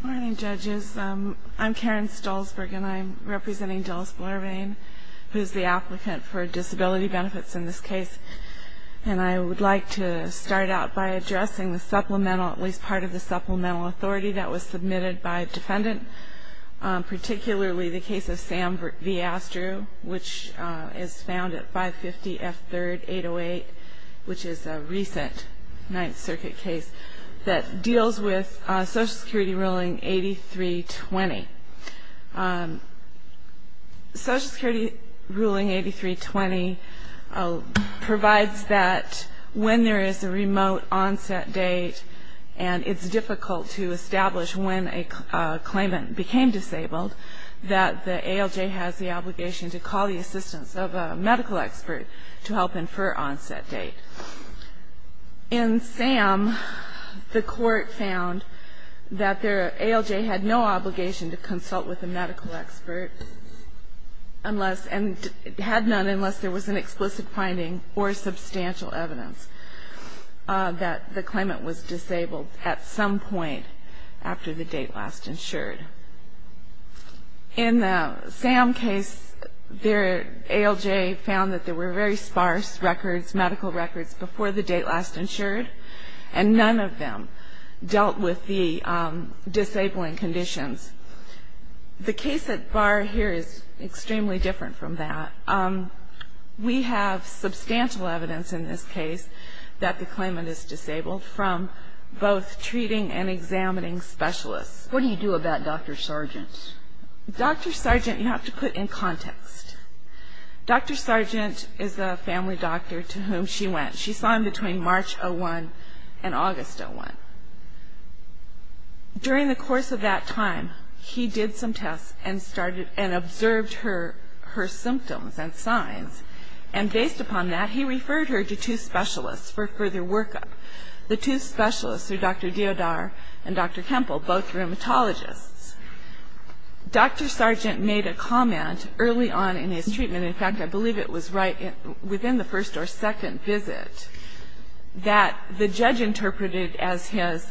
Good morning, judges. I'm Karen Stolzberg and I'm representing Dilys Blair-Bain, who's the applicant for disability benefits in this case. And I would like to start out by addressing the supplemental, at least part of the supplemental, authority that was submitted by a defendant, particularly the case of Sam v. Astrue, which is found at 550 F. 3rd, 808, which is a recent Ninth Circuit case that deals with Social Security Ruling 8320. Social Security Ruling 8320 provides that when there is a remote onset date and it's difficult to establish when a claimant became disabled, that the ALJ has the obligation to call the assistance of a medical expert to help infer onset date. In Sam, the court found that the ALJ had no obligation to consult with a medical expert unless and had none unless there was an explicit finding or substantial evidence that the claimant was disabled at some point after the date last insured. In the Sam case, the ALJ found that there were very sparse records, medical records, before the date last insured, and none of them dealt with the disabling conditions. The case at bar here is extremely different from that. We have substantial evidence in this case that the claimant is disabled from both treating and examining specialists. What do you do about Dr. Sargent? Dr. Sargent, you have to put in context. Dr. Sargent is a family doctor to whom she went. She saw him between March of 1 and August of 1. During the course of that time, he did some tests and observed her symptoms and signs, and based upon that, he referred her to two specialists for further workup. The two specialists are Dr. Diodar and Dr. Kempel, both rheumatologists. Dr. Sargent made a comment early on in his treatment. In fact, I believe it was right within the first or second visit that the judge interpreted as his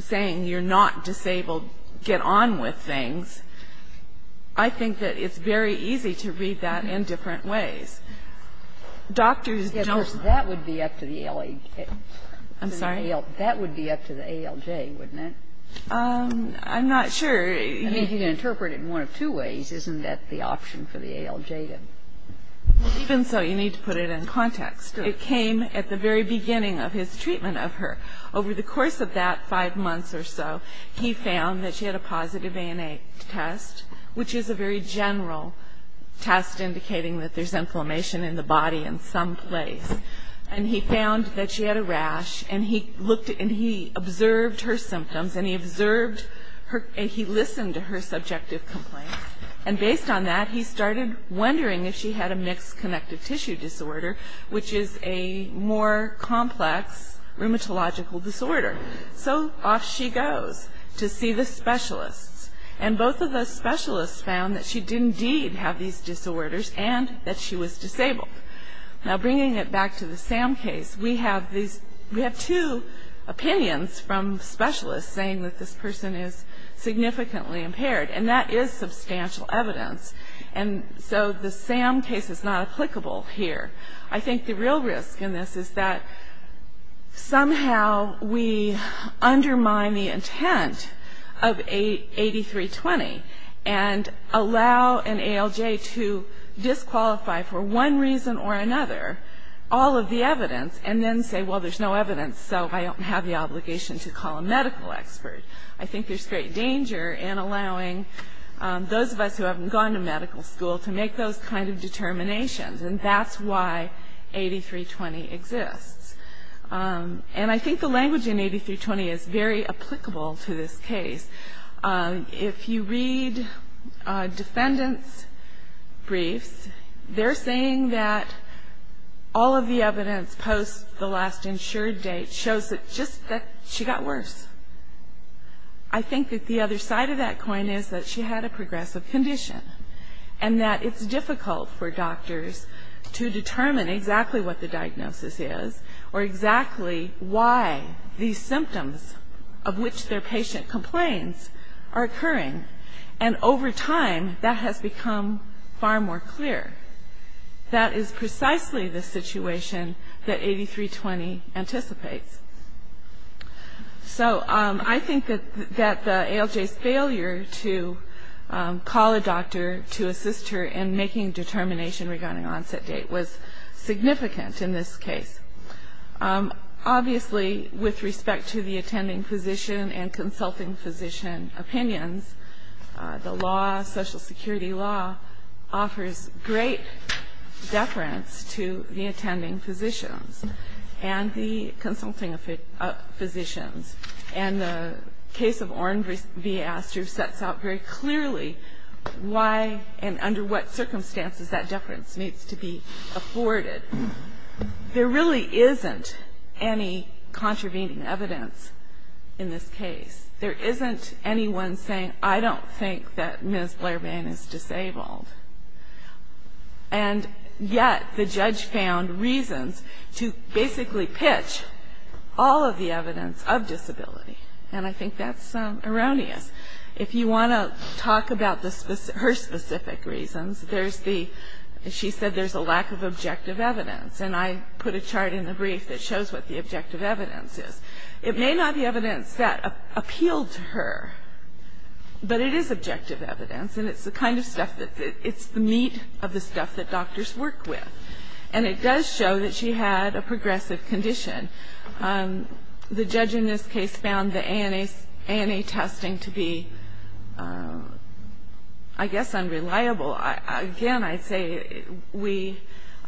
saying you're not disabled, get on with things. I think that it's very easy to read that in different ways. Doctors don't. That would be up to the ALJ, wouldn't it? I'm not sure. You can interpret it in one of two ways. Isn't that the option for the ALJ then? Even so, you need to put it in context. It came at the very beginning of his treatment of her. Over the course of that five months or so, he found that she had a positive ANA test, which is a very general test indicating that there's inflammation in the body in some place. And he found that she had a rash, and he observed her symptoms, and he listened to her subjective complaints. And based on that, he started wondering if she had a mixed connective tissue disorder, which is a more complex rheumatological disorder. So off she goes to see the specialists. And both of the specialists found that she did indeed have these disorders and that she was disabled. Now, bringing it back to the SAM case, we have two opinions from specialists saying that this person is significantly impaired, and that is substantial evidence. And so the SAM case is not applicable here. I think the real risk in this is that somehow we undermine the intent of 8320 and allow an ALJ to disqualify for one reason or another all of the evidence and then say, well, there's no evidence, so I don't have the obligation to call a medical expert. I think there's great danger in allowing those of us who haven't gone to medical school to make those kind of determinations. And that's why 8320 exists. And I think the language in 8320 is very applicable to this case. If you read defendants' briefs, they're saying that all of the evidence post the last insured date shows that just that she got worse. I think that the other side of that coin is that she had a progressive condition and that it's difficult for doctors to determine exactly what the diagnosis is or exactly why these symptoms of which their patient complains are occurring. And over time, that has become far more clear. That is precisely the situation that 8320 anticipates. So I think that the ALJ's failure to call a doctor to assist her in making determination regarding onset date was significant in this case. Obviously, with respect to the attending physician and consulting physician opinions, the law, social security law, offers great deference to the attending physicians and the consulting physicians. And the case of Oren v. Astro sets out very clearly why and under what circumstances that deference needs to be afforded. There really isn't any contravening evidence in this case. There isn't anyone saying, I don't think that Ms. Blair Bain is disabled. And yet the judge found reasons to basically pitch all of the evidence of disability. And I think that's erroneous. If you want to talk about her specific reasons, she said there's a lack of objective evidence. And I put a chart in the brief that shows what the objective evidence is. It may not be evidence that appealed to her, but it is objective evidence. And it's the meat of the stuff that doctors work with. And it does show that she had a progressive condition. The judge in this case found the ANA testing to be, I guess, unreliable. Again, I'd say we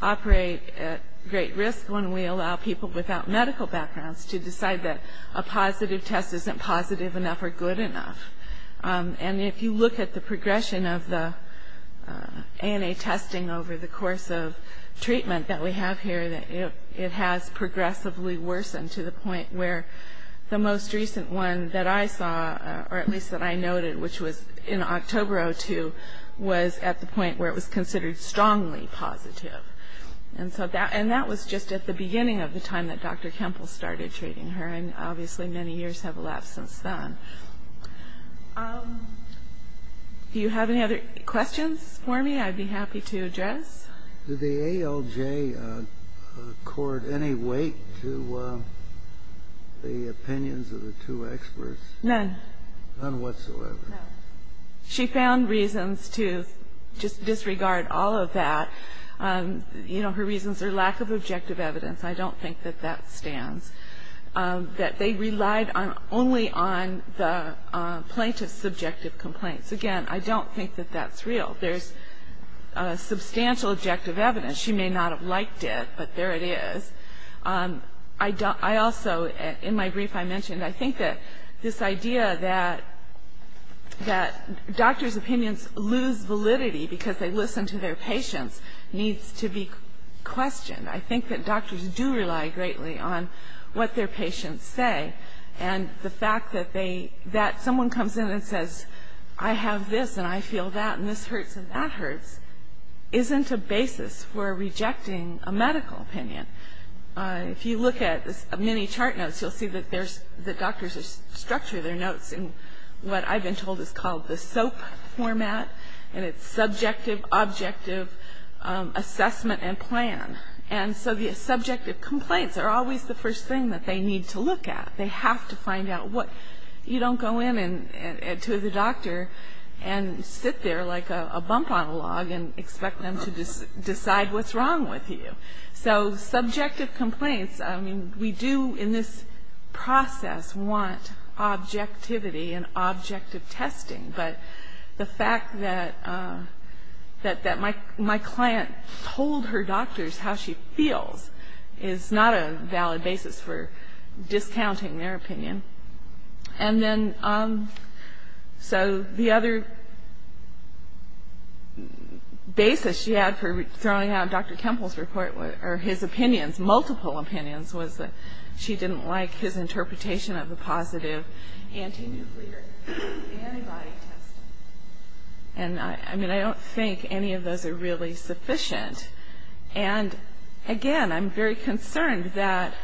operate at great risk when we allow people without medical backgrounds to decide that a positive test isn't positive enough or good enough. And if you look at the progression of the ANA testing over the course of treatment that we have here, it has progressively worsened to the point where the most recent one that I saw, or at least that I noted, which was in October of 2002, was at the point where it was considered strongly positive. And that was just at the beginning of the time that Dr. Kempel started treating her. And obviously many years have elapsed since then. Do you have any other questions for me I'd be happy to address? Did the ALJ accord any weight to the opinions of the two experts? None. None whatsoever. No. She found reasons to just disregard all of that. You know, her reasons are lack of objective evidence. I don't think that that stands. That they relied only on the plaintiff's subjective complaints. Again, I don't think that that's real. There's substantial objective evidence. She may not have liked it, but there it is. I also, in my brief I mentioned, I think that this idea that doctors' opinions lose validity because they listen to their patients needs to be questioned. I think that doctors do rely greatly on what their patients say. And the fact that someone comes in and says, I have this and I feel that and this hurts and that hurts, isn't a basis for rejecting a medical opinion. If you look at many chart notes, you'll see that doctors structure their notes in what I've been told is called the SOAP format. And it's subjective, objective assessment and plan. And so the subjective complaints are always the first thing that they need to look at. They have to find out what. You don't go in to the doctor and sit there like a bump on a log and expect them to decide what's wrong with you. So subjective complaints, I mean, we do in this process want objectivity and objective testing. But the fact that my client told her doctors how she feels is not a valid basis for discounting their opinion. And then so the other basis she had for throwing out Dr. Temple's report, or his opinions, multiple opinions, was that she didn't like his interpretation of the positive anti-nuclear antibody testing. And, I mean, I don't think any of those are really sufficient. And, again, I'm very concerned that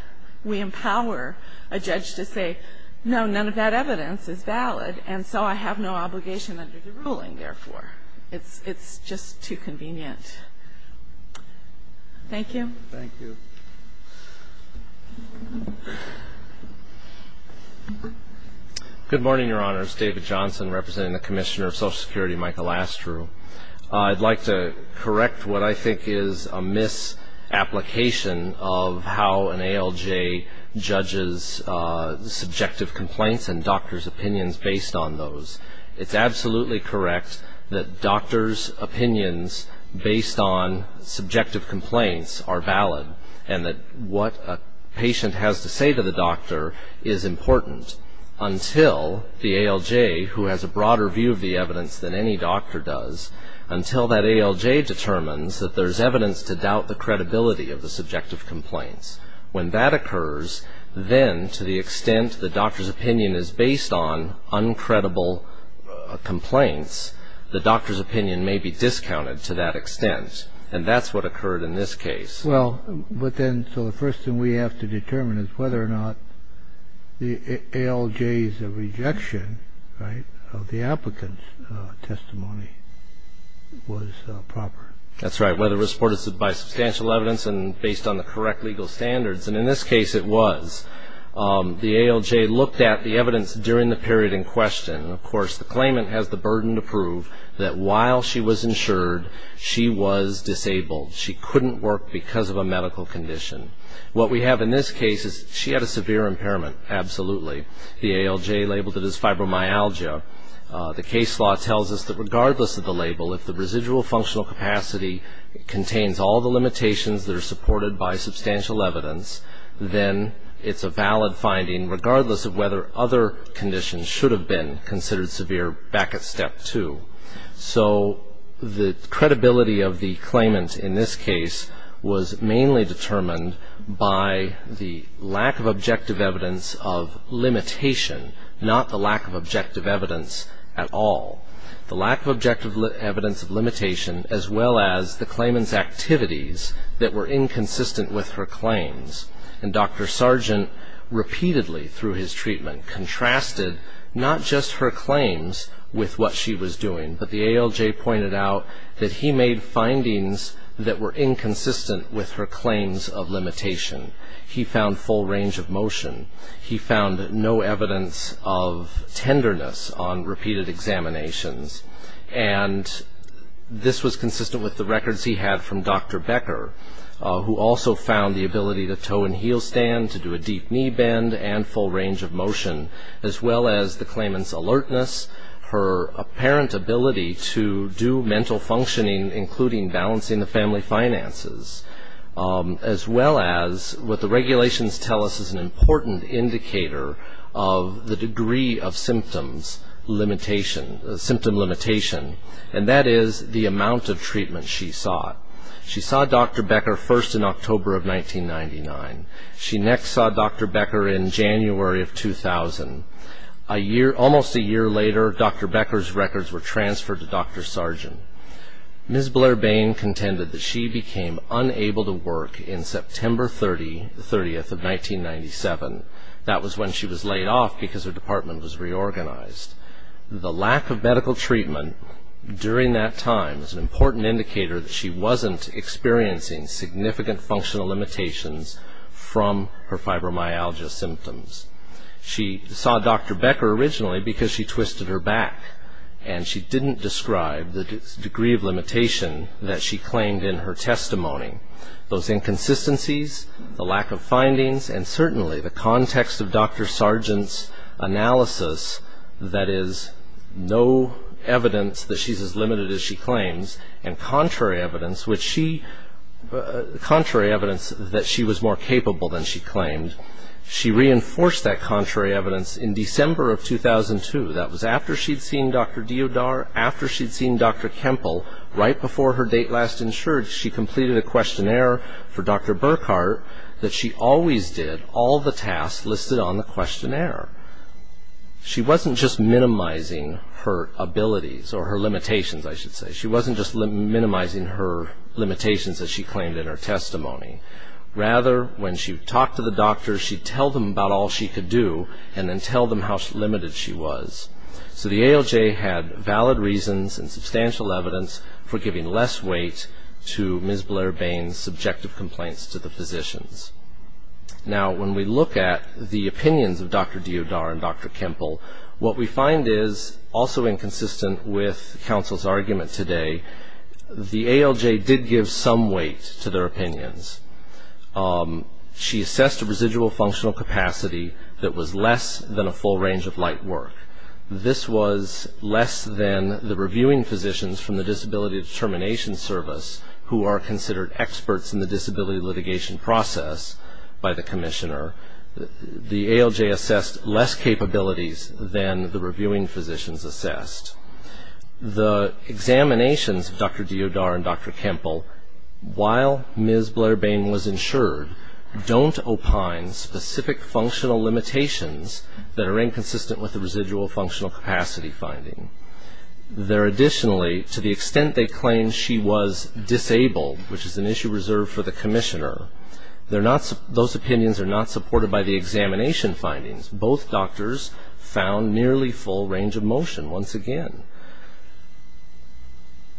we empower a judge to say, no, none of that evidence is valid, and so I have no obligation under the ruling, therefore. It's just too convenient. Thank you. Thank you. Good morning, Your Honors. David Johnson representing the Commissioner of Social Security, Michael Astru. I'd like to correct what I think is a misapplication of how an ALJ judges subjective complaints and doctors' opinions based on those. It's absolutely correct that doctors' opinions based on subjective complaints are valid and that what a patient has to say to the doctor is important until the ALJ, who has a broader view of the evidence than any doctor does, until that ALJ determines that there's evidence to doubt the credibility of the subjective complaints. When that occurs, then, to the extent the doctor's opinion is based on uncredible complaints, the doctor's opinion may be discounted to that extent. And that's what occurred in this case. Well, but then, so the first thing we have to determine is whether or not the ALJ's rejection, right, of the applicant's testimony was proper. That's right, whether it was supported by substantial evidence and based on the correct legal standards. And in this case, it was. The ALJ looked at the evidence during the period in question. Of course, the claimant has the burden to prove that while she was insured, she was disabled. She couldn't work because of a medical condition. What we have in this case is she had a severe impairment, absolutely. The ALJ labeled it as fibromyalgia. The case law tells us that regardless of the label, if the residual functional capacity contains all the limitations that are supported by substantial evidence, then it's a valid finding regardless of whether other conditions should have been considered severe back at Step 2. So the credibility of the claimant in this case was mainly determined by the lack of objective evidence of limitation, not the lack of objective evidence at all. The lack of objective evidence of limitation as well as the claimant's activities that were inconsistent with her claims. And Dr. Sargent repeatedly through his treatment contrasted not just her claims with what she was doing, but the ALJ pointed out that he made findings that were inconsistent with her claims of limitation. He found full range of motion. He found no evidence of tenderness on repeated examinations. And this was consistent with the records he had from Dr. Becker, who also found the ability to toe and heel stand, to do a deep knee bend and full range of motion, as well as the claimant's alertness, her apparent ability to do mental functioning, including balancing the family finances, as well as what the regulations tell us is an important indicator of the degree of symptom limitation, and that is the amount of treatment she sought. She saw Dr. Becker first in October of 1999. She next saw Dr. Becker in January of 2000. Almost a year later, Dr. Becker's records were transferred to Dr. Sargent. Ms. Blair-Bain contended that she became unable to work in September 30th of 1997. That was when she was laid off because her department was reorganized. The lack of medical treatment during that time was an important indicator that she wasn't experiencing significant functional limitations from her fibromyalgia symptoms. She saw Dr. Becker originally because she twisted her back, and she didn't describe the degree of limitation that she claimed in her testimony. Those inconsistencies, the lack of findings, and certainly the context of Dr. Sargent's analysis, that is no evidence that she's as limited as she claims, and contrary evidence that she was more capable than she claimed. She reinforced that contrary evidence in December of 2002. That was after she'd seen Dr. Diodar, after she'd seen Dr. Kempel, right before her date last insured, she completed a questionnaire for Dr. Burkhart that she always did all the tasks listed on the questionnaire. She wasn't just minimizing her abilities, or her limitations, I should say. She wasn't just minimizing her limitations that she claimed in her testimony. Rather, when she talked to the doctors, she'd tell them about all she could do, and then tell them how limited she was. So the ALJ had valid reasons and substantial evidence for giving less weight to Ms. Blair-Bain's subjective complaints to the physicians. Now, when we look at the opinions of Dr. Diodar and Dr. Kempel, what we find is, also inconsistent with counsel's argument today, the ALJ did give some weight to their opinions. She assessed a residual functional capacity that was less than a full range of light work. This was less than the reviewing physicians from the Disability Determination Service, who are considered experts in the disability litigation process, by the commissioner. The ALJ assessed less capabilities than the reviewing physicians assessed. The examinations of Dr. Diodar and Dr. Kempel, while Ms. Blair-Bain was insured, don't opine specific functional limitations that are inconsistent with the residual functional capacity finding. They're additionally, to the extent they claim she was disabled, which is an issue reserved for the commissioner, those opinions are not supported by the examination findings. Both doctors found nearly full range of motion, once again.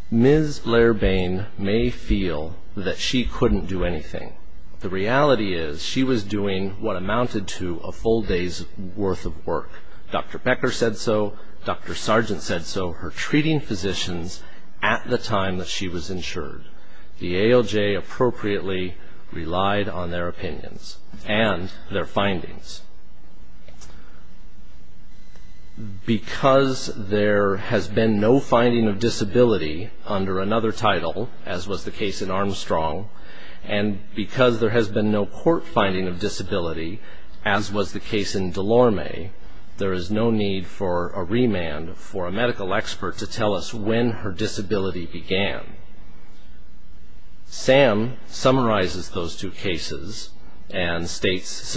Ms. Blair-Bain may feel that she couldn't do anything. The reality is, she was doing what amounted to a full day's worth of work. Dr. Becker said so, Dr. Sargent said so, her treating physicians at the time that she was insured. Because there has been no finding of disability under another title, as was the case in Armstrong, and because there has been no court finding of disability, as was the case in Delorme, there is no need for a remand for a medical expert to tell us when her disability began. Sam summarizes those two cases and summarizes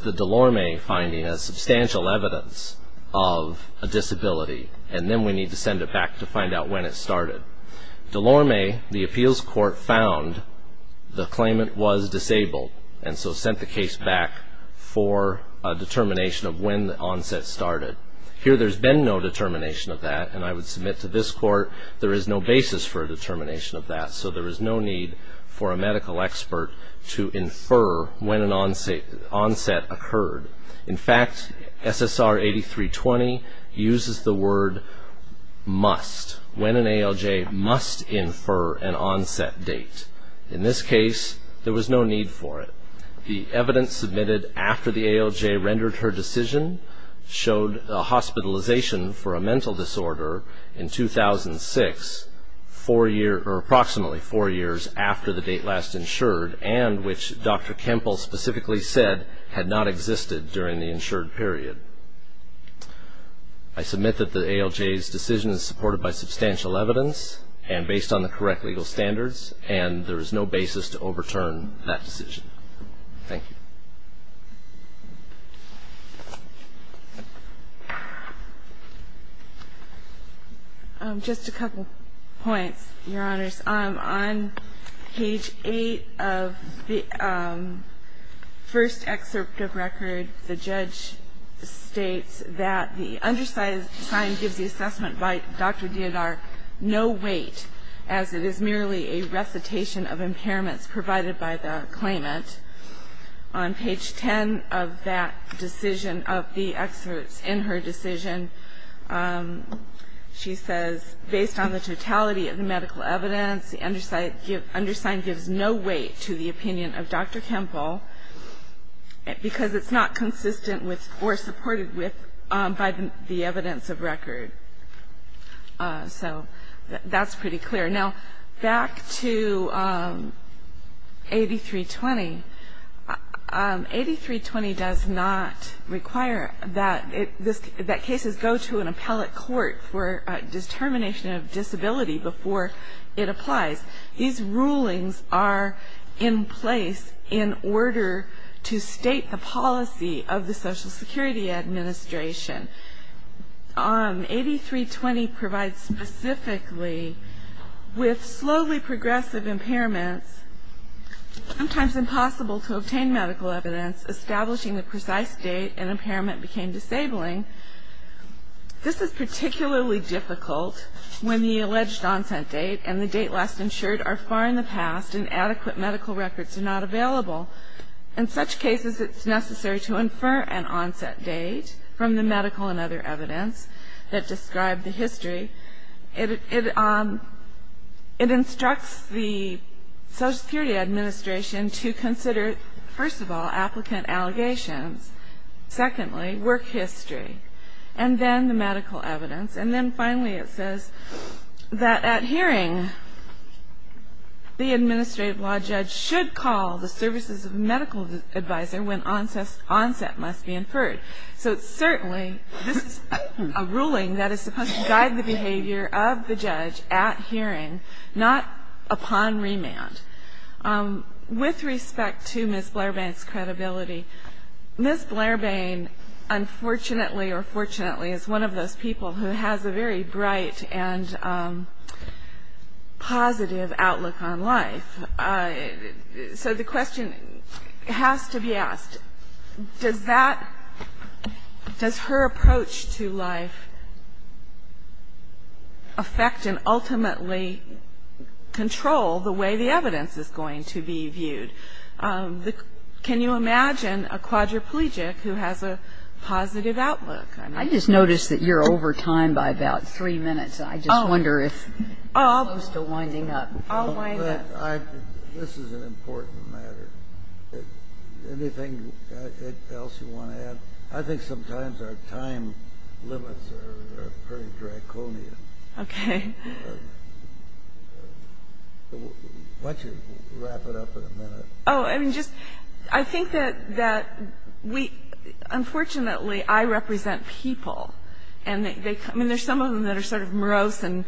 the Delorme finding as substantial evidence of a disability, and then we need to send it back to find out when it started. Delorme, the appeals court found the claimant was disabled and so sent the case back for a determination of when the onset started. Here, there's been no determination of that, and I would submit to this court there is no basis for a determination of that, so there is no need for a medical expert to infer when an onset occurred. In fact, SSR 8320 uses the word must, when an ALJ must infer an onset date. In this case, there was no need for it. The evidence submitted after the ALJ rendered her decision showed a hospitalization for a mental disorder in 2006, approximately four years after the date last insured, and which Dr. Kempel specifically said had not existed during the insured period. I submit that the ALJ's decision is supported by substantial evidence and based on the correct legal standards, and there is no basis to overturn that decision. Thank you. Just a couple points, Your Honors. On page 8 of the first excerpt of record, the judge states that the undersized time gives the assessment by Dr. Diodar no weight as it is merely a recitation of impairments provided by the claimant. On page 10 of that decision, of the excerpts in her decision, she says based on the totality of the medical evidence, the undersigned gives no weight to the opinion of Dr. Kempel because it's not consistent with or supported with by the evidence of record. So that's pretty clear. Now back to 8320. 8320 does not require that cases go to an appellate court for determination of disability before it applies. These rulings are in place in order to state the policy of the Social Security Administration. 8320 provides specifically with slowly progressive impairments, sometimes impossible to obtain medical evidence, establishing the precise date an impairment became disabling. This is particularly difficult when the alleged onset date and the date last insured are far in the past and adequate medical records are not available. In such cases, it's necessary to infer an onset date from the medical and other evidence that describe the history. It instructs the Social Security Administration to consider, first of all, applicant allegations. Secondly, work history. And then the medical evidence. And then finally it says that at hearing, the administrative law judge should call the services of medical advisor when onset must be inferred. So certainly this is a ruling that is supposed to guide the behavior of the judge at hearing, not upon remand. With respect to Ms. Blairbane's credibility, Ms. Blairbane, unfortunately or fortunately, is one of those people who has a very bright and positive outlook on life. So the question has to be asked, does that ‑‑ does her approach to life affect and ultimately control the way the evidence is going to be viewed? Can you imagine a quadriplegic who has a positive outlook? I just noticed that you're over time by about three minutes. I just wonder if you're still winding up. I'll wind up. This is an important matter. Anything else you want to add? I think sometimes our time limits are pretty draconian. Okay. Why don't you wrap it up in a minute? Oh, I mean, just ‑‑ I think that we ‑‑ unfortunately, I represent people. And there's some of them that are sort of morose and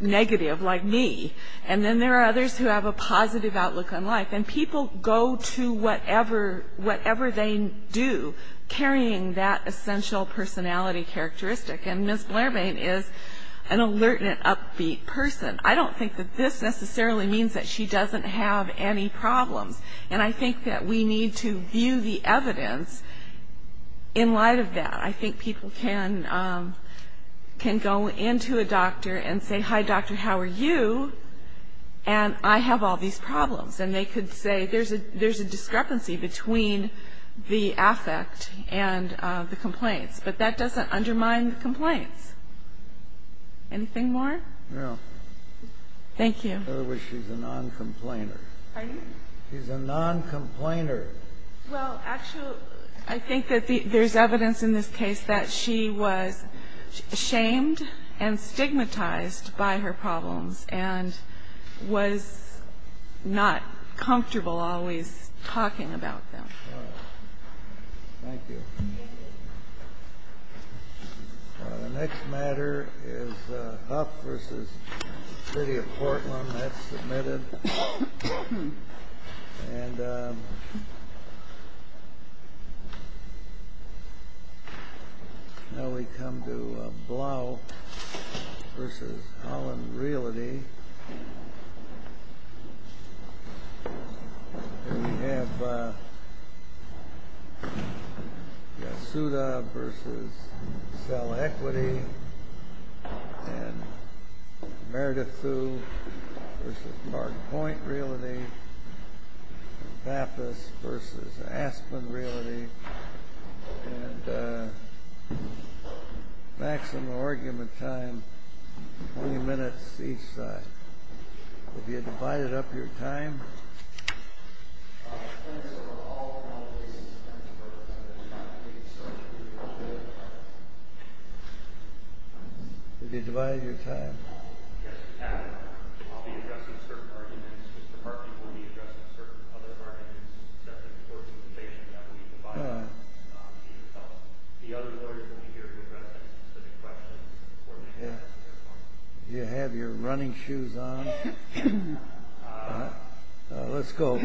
negative, like me. And then there are others who have a positive outlook on life. And people go to whatever they do, carrying that essential personality characteristic. And Ms. Blairbane is an alert and an upbeat person. I don't think that this necessarily means that she doesn't have any problems. And I think that we need to view the evidence in light of that. I think people can go into a doctor and say, hi, doctor, how are you? And I have all these problems. And they could say there's a discrepancy between the affect and the complaints. But that doesn't undermine the complaints. Anything more? No. Thank you. In other words, she's a noncomplainer. Pardon me? She's a noncomplainer. Well, actually, I think that there's evidence in this case that she was shamed and stigmatized by her problems and was not comfortable always talking about them. Thank you. The next matter is Huff v. City of Portland. That's submitted. And now we come to Blough v. Holland Realty. And we have Yasuda v. Sell Equity and Meredith Thu v. Mark Point Realty and Pappas v. Aspen Realty. And maximum argument time, 20 minutes each side. Have you divided up your time? Have you divided your time? Yes, we have. I'll be addressing certain arguments. Mr. Harkin will be addressing certain other arguments. That's an important information that we provide to ourselves. The other lawyers will be here to address any specific questions. Do you have your running shoes on? Let's go.